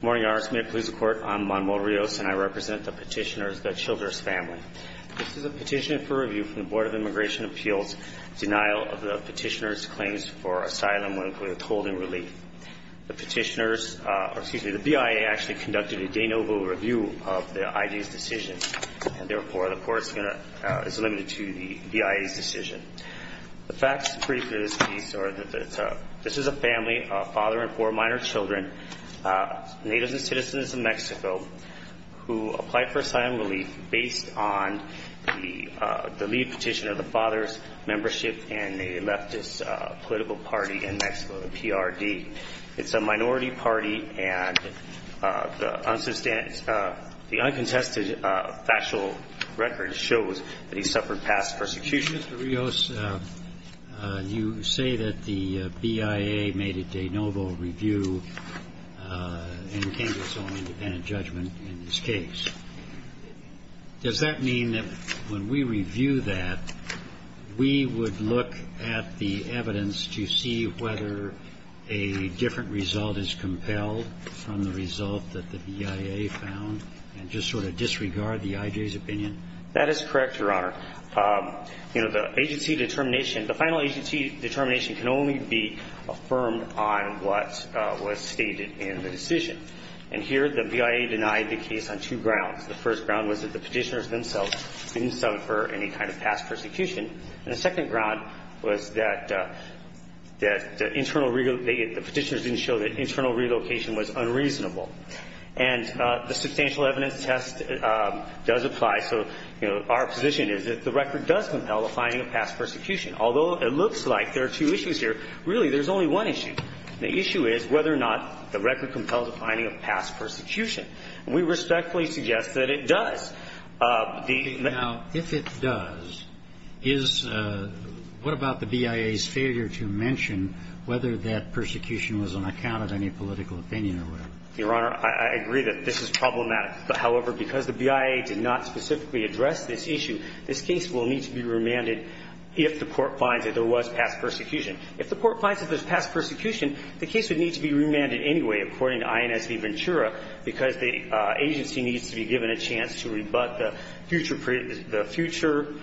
Good morning, Your Honor. It's my pleasure to court. I'm Manuel Rios, and I represent the petitioners, the Childers family. This is a petition for review from the Board of Immigration Appeals' denial of the petitioners' claims for asylum with holding relief. The petitioners, excuse me, the BIA actually conducted a de novo review of the ID's decision, and therefore the court is going to, is limited to the BIA's decision. The facts of this case are that this is a family of a father and four minor children, natives and citizens of Mexico, who applied for asylum relief based on the leave petition of the father's membership in a leftist political party in Mexico, the PRD. It's a minority party, and the uncontested factual record shows that he suffered past persecution. Mr. Rios, you say that the BIA made a de novo review and came to its own independent judgment in this case. Does that mean that when we review that, we would look at the evidence to see whether a different result is compelled from the result that the BIA found and just sort of disregard the IJ's opinion? That is correct, Your Honor. You know, the agency determination, the final agency determination can only be affirmed on what was stated in the decision. And here the BIA denied the case on two grounds. The first ground was that the petitioners themselves didn't suffer any kind of past persecution. And the second ground was that the petitioners didn't show that internal relocation was unreasonable. And the substantial evidence test does apply. So, you know, our position is that the record does compel the finding of past persecution. Although it looks like there are two issues here, really there's only one issue. The issue is whether or not the record compels the finding of past persecution. And we respectfully suggest that it does. Now, if it does, is what about the BIA's failure to mention whether that persecution was on account of any political opinion or whatever? Your Honor, I agree that this is problematic. However, because the BIA did not specifically address this issue, this case will need to be remanded if the court finds that there was past persecution. If the court finds that there's past persecution, the case would need to be remanded anyway, according to INS de Ventura, because the agency needs to be given a chance to rebut the future pre the future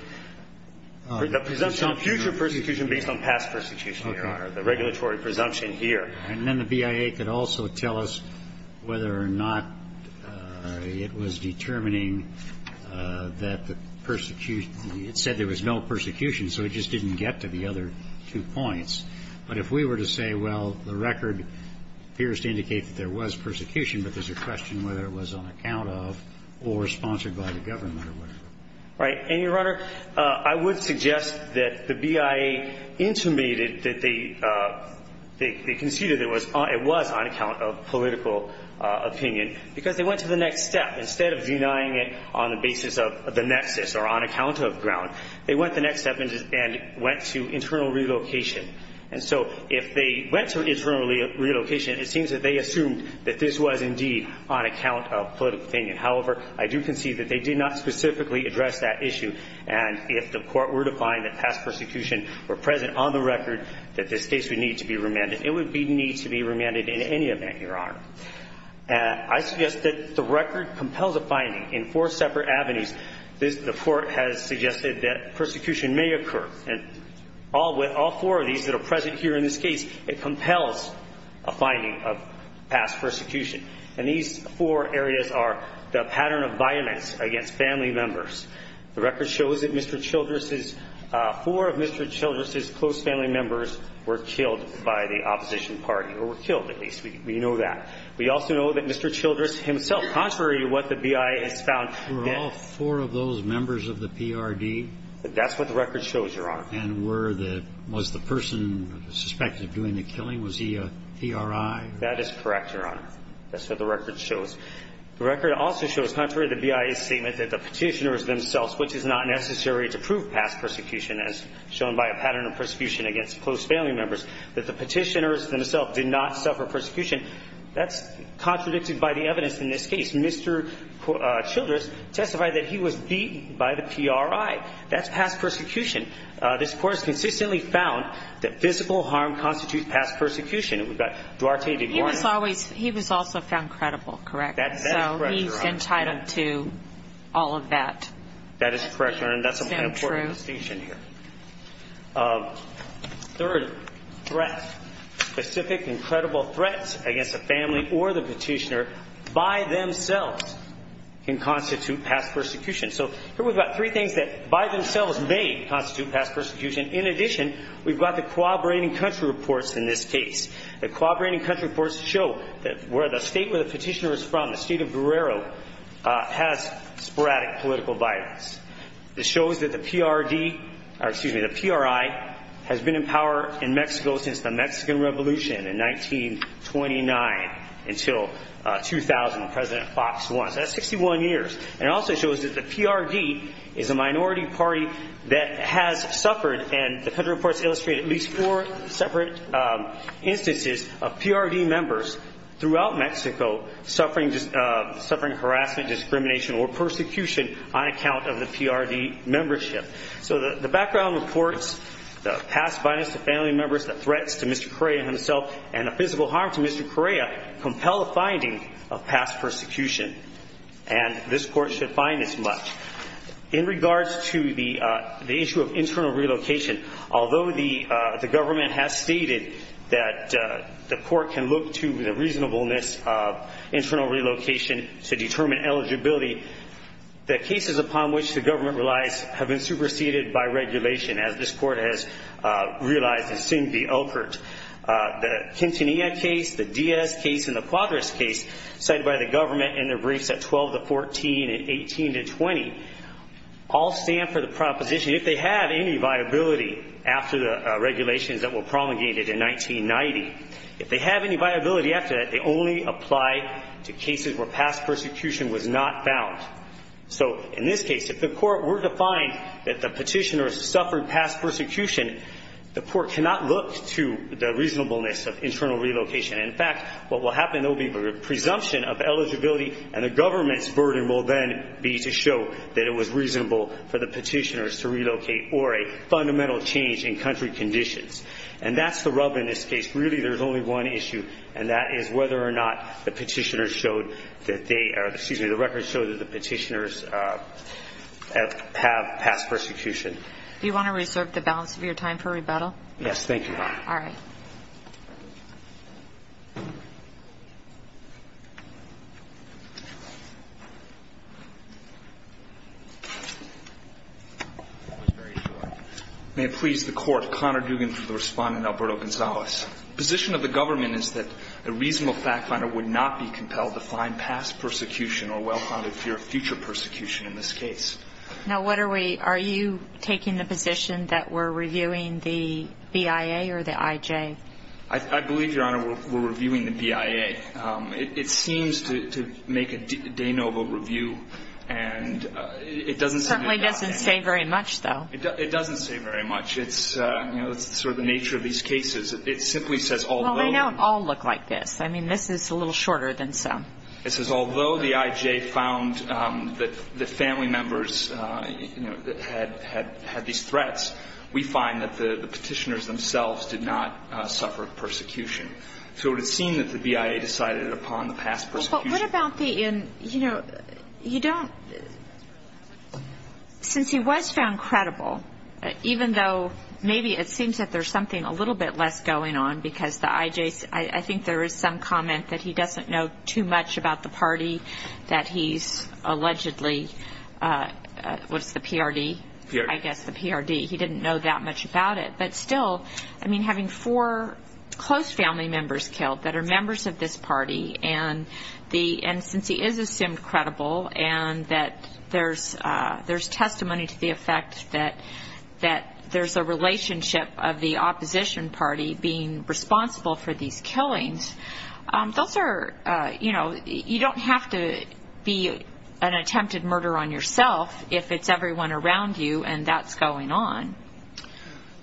presumption of future persecution based on past persecution, Your Honor, the regulatory presumption here. And then the BIA could also tell us whether or not it was determining that the persecution It said there was no persecution, so it just didn't get to the other two points. But if we were to say, well, the record appears to indicate that there was persecution, but there's a question whether it was on account of or sponsored by the government or whatever. Right. And, Your Honor, I would suggest that the BIA intimated that they conceded it was on account of political opinion, because they went to the next step. Instead of denying it on the basis of the nexus or on account of ground, they went the next step and went to internal relocation. And so if they went to internal relocation, it seems that they assumed that this was indeed on account of political opinion. However, I do concede that they did not specifically address that issue. And if the Court were to find that past persecution were present on the record, that this case would need to be remanded. It would need to be remanded in any event, Your Honor. I suggest that the record compels a finding in four separate avenues. The Court has suggested that persecution may occur. And all four of these that are present here in this case, it compels a finding of past persecution. And these four areas are the pattern of violence against family members. The record shows that Mr. Childress's – four of Mr. Childress's close family members were killed by the opposition party, or were killed at least. We know that. We also know that Mr. Childress himself, contrary to what the BIA has found – Were all four of those members of the PRD? That's what the record shows, Your Honor. And were the – was the person suspected of doing the killing, was he a PRI? That is correct, Your Honor. That's what the record shows. The record also shows, contrary to the BIA's statement, that the petitioners themselves, which is not necessary to prove past persecution as shown by a pattern of persecution against close family members, that the petitioners themselves did not suffer persecution. That's contradicted by the evidence in this case. Mr. Childress testified that he was beaten by the PRI. That's past persecution. This Court has consistently found that physical harm constitutes past persecution. We've got Duarte de Guarnas. He was always – he was also found credible, correct? That is correct, Your Honor. So he's entitled to all of that. That is correct, Your Honor. And that's an important distinction here. Third, threat. Specific and credible threats against a family or the petitioner by themselves can constitute past persecution. So here we've got three things that by themselves may constitute past persecution. In addition, we've got the cooperating country reports in this case. The cooperating country reports show where the state where the petitioner is from, the state of Guerrero, has sporadic political violence. It shows that the PRI has been in power in Mexico since the Mexican Revolution in 1929 until 2000 when President Fox won. That's 61 years. And it also shows that the PRD is a minority party that has suffered and the country reports illustrate at least four separate instances of PRD members throughout Mexico suffering harassment, discrimination, or persecution on account of the PRD membership. So the background reports, the past violence to family members, the threats to Mr. Correa himself, and the physical harm to Mr. Correa compel the finding of past persecution. And this court should find as much. In regards to the issue of internal relocation, although the government has stated that the court can look to the reasonableness of internal relocation to determine eligibility, the cases upon which the government relies have been superseded by regulation as this court has realized and soon be offered. The Quintanilla case, the Diaz case, and the Cuadras case cited by the government in their briefs at 12 to 14 and 18 to 20 all stand for the proposition if they have any viability after the regulations that were promulgated in 1990, if they have any viability after that, they only apply to cases where past persecution was not found. So in this case, if the court were to find that the petitioner suffered past persecution, the court cannot look to the reasonableness of internal relocation. In fact, what will happen, there will be a presumption of eligibility, and the government's burden will then be to show that it was reasonable for the petitioners to relocate or a fundamental change in country conditions. And that's the rub in this case. Really, there's only one issue, and that is whether or not the petitioners showed that they or the records showed that the petitioners have past persecution. Do you want to reserve the balance of your time for rebuttal? Yes, thank you. All right. Thank you. May it please the Court, Connor Dugan for the respondent, Alberto Gonzalez. The position of the government is that a reasonable fact finder would not be compelled to find past persecution or well-founded fear of future persecution in this case. Now, what are we ñ are you taking the position that we're reviewing the BIA or the IJ? I believe, Your Honor, we're reviewing the BIA. It seems to make a de novo review, and it doesn't sayó It certainly doesn't say very much, though. It doesn't say very much. It's sort of the nature of these cases. It simply says, althoughó Well, they don't all look like this. I mean, this is a little shorter than some. It says, although the IJ found that family members had these threats, we find that the petitioners themselves did not suffer persecution. So it would seem that the BIA decided upon the past persecution. But what about theóyou know, you don'tósince he was found credible, even though maybe it seems that there's something a little bit less going on because the IJó I think there is some comment that he doesn't know too much about the party, that he's allegedlyówhat's the PRD? PRD. I guess the PRD. He didn't know that much about it. But still, I mean, having four close family members killed that are members of this party, and since he is assumed credible, and that there's testimony to the effect that there's a relationship of the opposition party being responsible for these killings, those areóyou know, you don't have to be an attempted murder on yourself if it's everyone around you, and that's going on.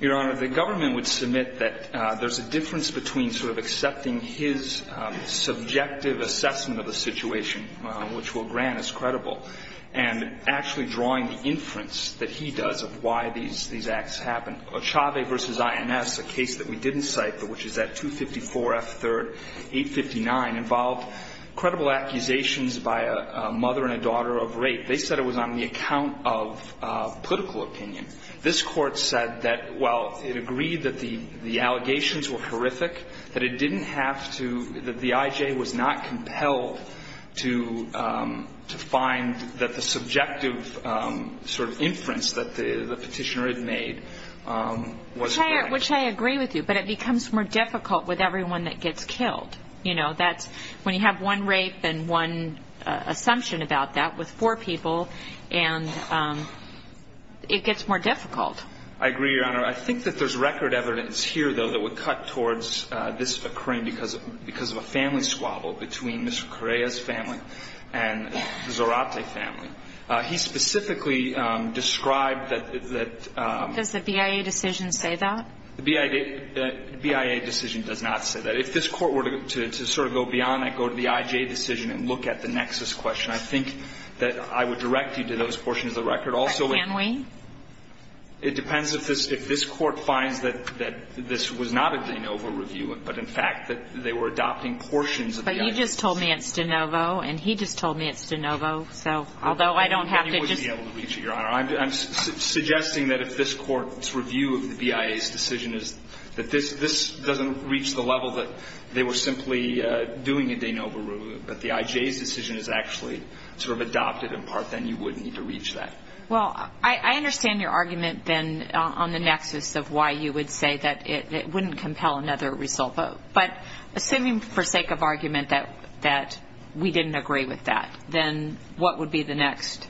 Your Honor, the government would submit that there's a difference between sort of accepting his subjective assessment of the situation, which will grant as credible, and actually drawing the inference that he does of why these acts happened. Ochave v. INS, a case that we didn't cite, which is at 254 F. 3rd, 859, involved credible accusations by a mother and a daughter of rape. They said it was on the account of political opinion. This Court said that while it agreed that the allegations were horrific, that it didn't have toóthat the IJ was not compelled to find that the subjective sort of inference that the petitioner had made was correct. Which I agree with you, but it becomes more difficult with everyone that gets killed. You know, that'sówhen you have one rape and one assumption about that with four people, and it gets more difficult. I agree, Your Honor. I think that there's record evidence here, though, that would cut towards this occurring because of a family squabble between Mr. Correa's family and the Zarate family. He specifically described tható Does the BIA decision say that? The BIA decision does not say that. If this Court were to sort of go beyond that, go to the IJ decision and look at the nexus question, I think that I would direct you to those portions of the record. But can we? It depends if this Court finds that this was not a de novo review, but in fact that they were adopting portions of the IJ decision. But you just told me it's de novo, and he just told me it's de novo. So although I don't have to justó You wouldn't be able to reach it, Your Honor. I'm suggesting that if this Court's review of the BIA's decision is that this doesn't reach the level that they were simply doing a de novo review, but the IJ's decision is actually sort of adopted in part, then you wouldn't need to reach that. Well, I understand your argument then on the nexus of why you would say that it wouldn't compel another result. But assuming for sake of argument that we didn't agree with that, then what would be the next?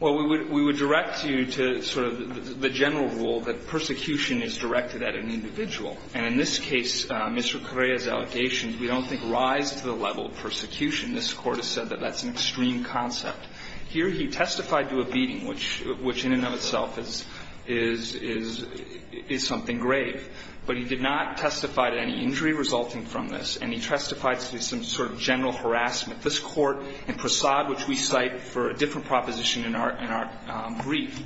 Well, we would direct you to sort of the general rule that persecution is directed at an individual. And in this case, Mr. Correa's allegations, we don't think rise to the level of persecution. This Court has said that that's an extreme concept. Here he testified to a beating, which in and of itself is something grave. But he did not testify to any injury resulting from this, and he testified to some sort of general harassment. This Court in Prasad, which we cite for a different proposition in our brief,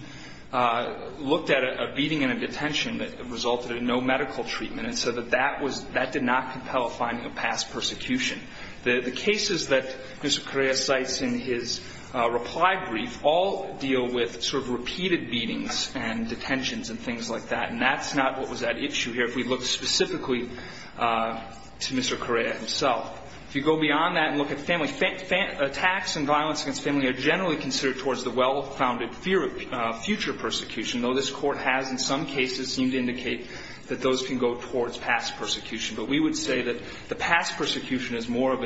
looked at a beating and a detention that resulted in no medical treatment and said that that was – that did not compel a finding of past persecution. The cases that Mr. Correa cites in his reply brief all deal with sort of repeated beatings and detentions and things like that. And that's not what was at issue here if we look specifically to Mr. Correa himself. If you go beyond that and look at family – attacks and violence against family are generally considered towards the well-founded future persecution, though this Court has in some cases seemed to indicate that those can go towards past persecution. But we would say that the past persecution is more of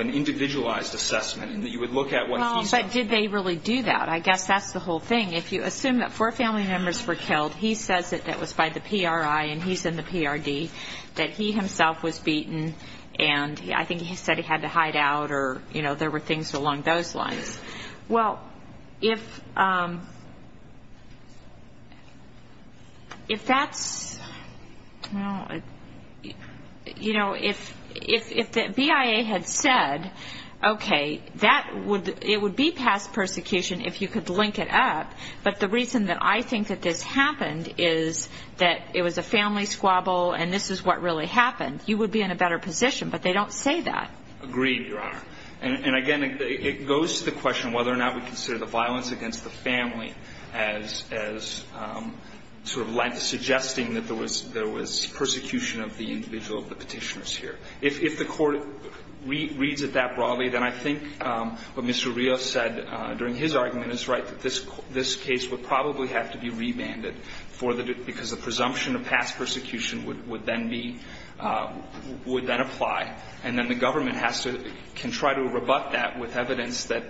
an individualized assessment, and that you would look at what he says. Well, but did they really do that? I guess that's the whole thing. If you assume that four family members were killed, he says that that was by the PRI, and he's in the PRD, that he himself was beaten, and I think he said he had to hide out or, you know, there were things along those lines. Well, if that's – you know, if the BIA had said, okay, that would – it would be past persecution if you could link it up, but the reason that I think that this happened is that it was a family squabble and this is what really happened. You would be in a better position, but they don't say that. Agreed, Your Honor. And again, it goes to the question whether or not we consider the violence against the family as sort of suggesting that there was persecution of the individual of the petitioners here. If the Court reads it that broadly, then I think what Mr. Rios said during his argument is right, that this case would probably have to be rebanded for the – because the presumption of past persecution would then be – would then apply, and then the government has to – can try to rebut that with evidence that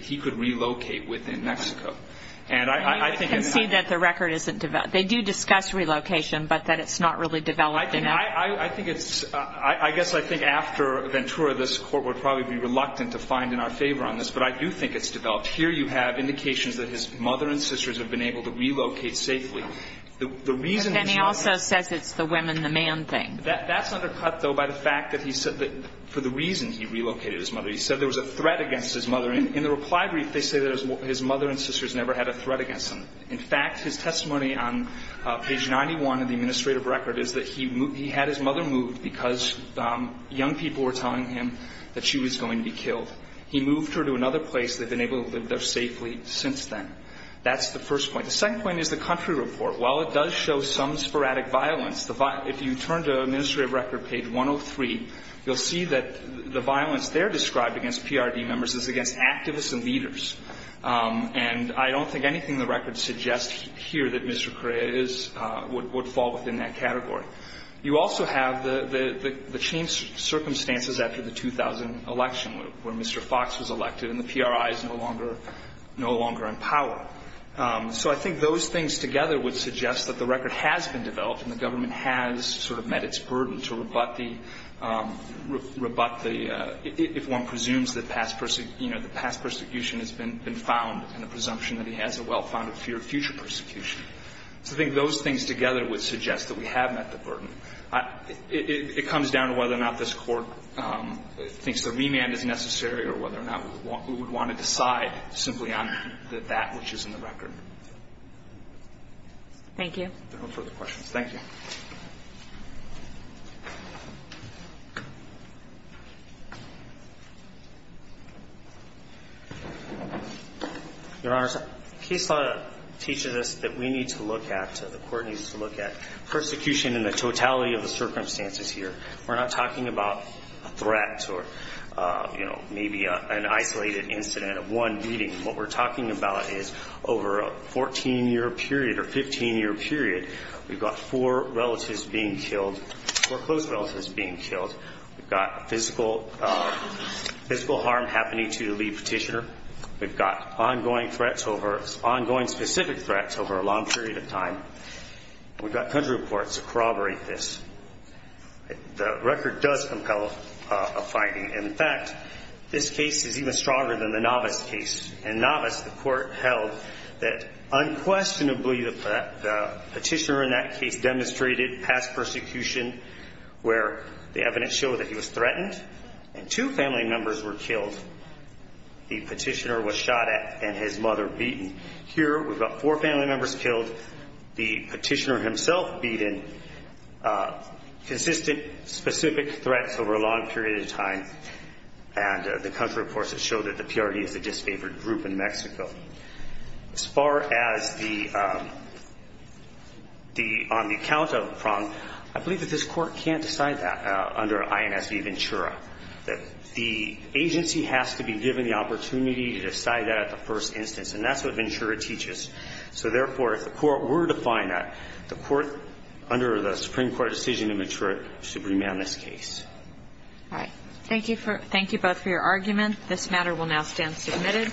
he could relocate within Mexico. And I think it's – I can see that the record isn't – they do discuss relocation, but that it's not really developed enough. I think it's – I guess I think after Ventura, this Court would probably be reluctant to find in our favor on this, but I do think it's developed. Here you have indications that his mother and sisters have been able to relocate safely. The reason that she was – But then he also says it's the women-the-man thing. That's undercut, though, by the fact that he said that – for the reason he relocated his mother. He said there was a threat against his mother. In the reply brief, they say that his mother and sisters never had a threat against him. In fact, his testimony on page 91 of the administrative record is that he had his mother moved because young people were telling him that she was going to be killed. He moved her to another place. They've been able to live there safely since then. That's the first point. The second point is the country report. While it does show some sporadic violence, the – if you turn to administrative record, page 103, you'll see that the violence there described against PRD members is against activists and leaders. And I don't think anything in the record suggests here that Mr. Correa is – would fall within that category. You also have the changed circumstances after the 2000 election where Mr. Fox was elected and the PRI is no longer in power. So I think those things together would suggest that the record has been developed and the government has sort of met its burden to rebut the – if one presumes that past – you know, the past persecution has been found and the presumption that he has a well-founded fear of future persecution. So I think those things together would suggest that we have met the burden. It comes down to whether or not this Court thinks the remand is necessary or whether or not we would want to decide simply on that which is in the record. Thank you. No further questions. Your Honor, case law teaches us that we need to look at – the Court needs to look at persecution in the totality of the circumstances here. We're not talking about a threat or, you know, maybe an isolated incident of one meeting. What we're talking about is over a 14-year period or 15-year period, we've got four relatives being killed – four close relatives being killed. We've got physical harm happening to the lead petitioner. We've got ongoing threats over – ongoing specific threats over a long period of time. We've got country reports that corroborate this. The record does compel a finding. In fact, this case is even stronger than the Navas case. In Navas, the Court held that unquestionably the petitioner in that case demonstrated past persecution where the evidence showed that he was threatened and two family members were killed. The petitioner was shot at and his mother beaten. Here we've got four family members killed, the petitioner himself beaten, and the country reports that show that the PRD is a disfavored group in Mexico. As far as the – on the account of Prong, I believe that this Court can't decide that under INS v. Ventura, that the agency has to be given the opportunity to decide that at the first instance, and that's what Ventura teaches. So therefore, if the Court were to find that, the Court under the Supreme Court decision in Ventura should remand this case. All right. Thank you both for your argument. This matter will now stand submitted.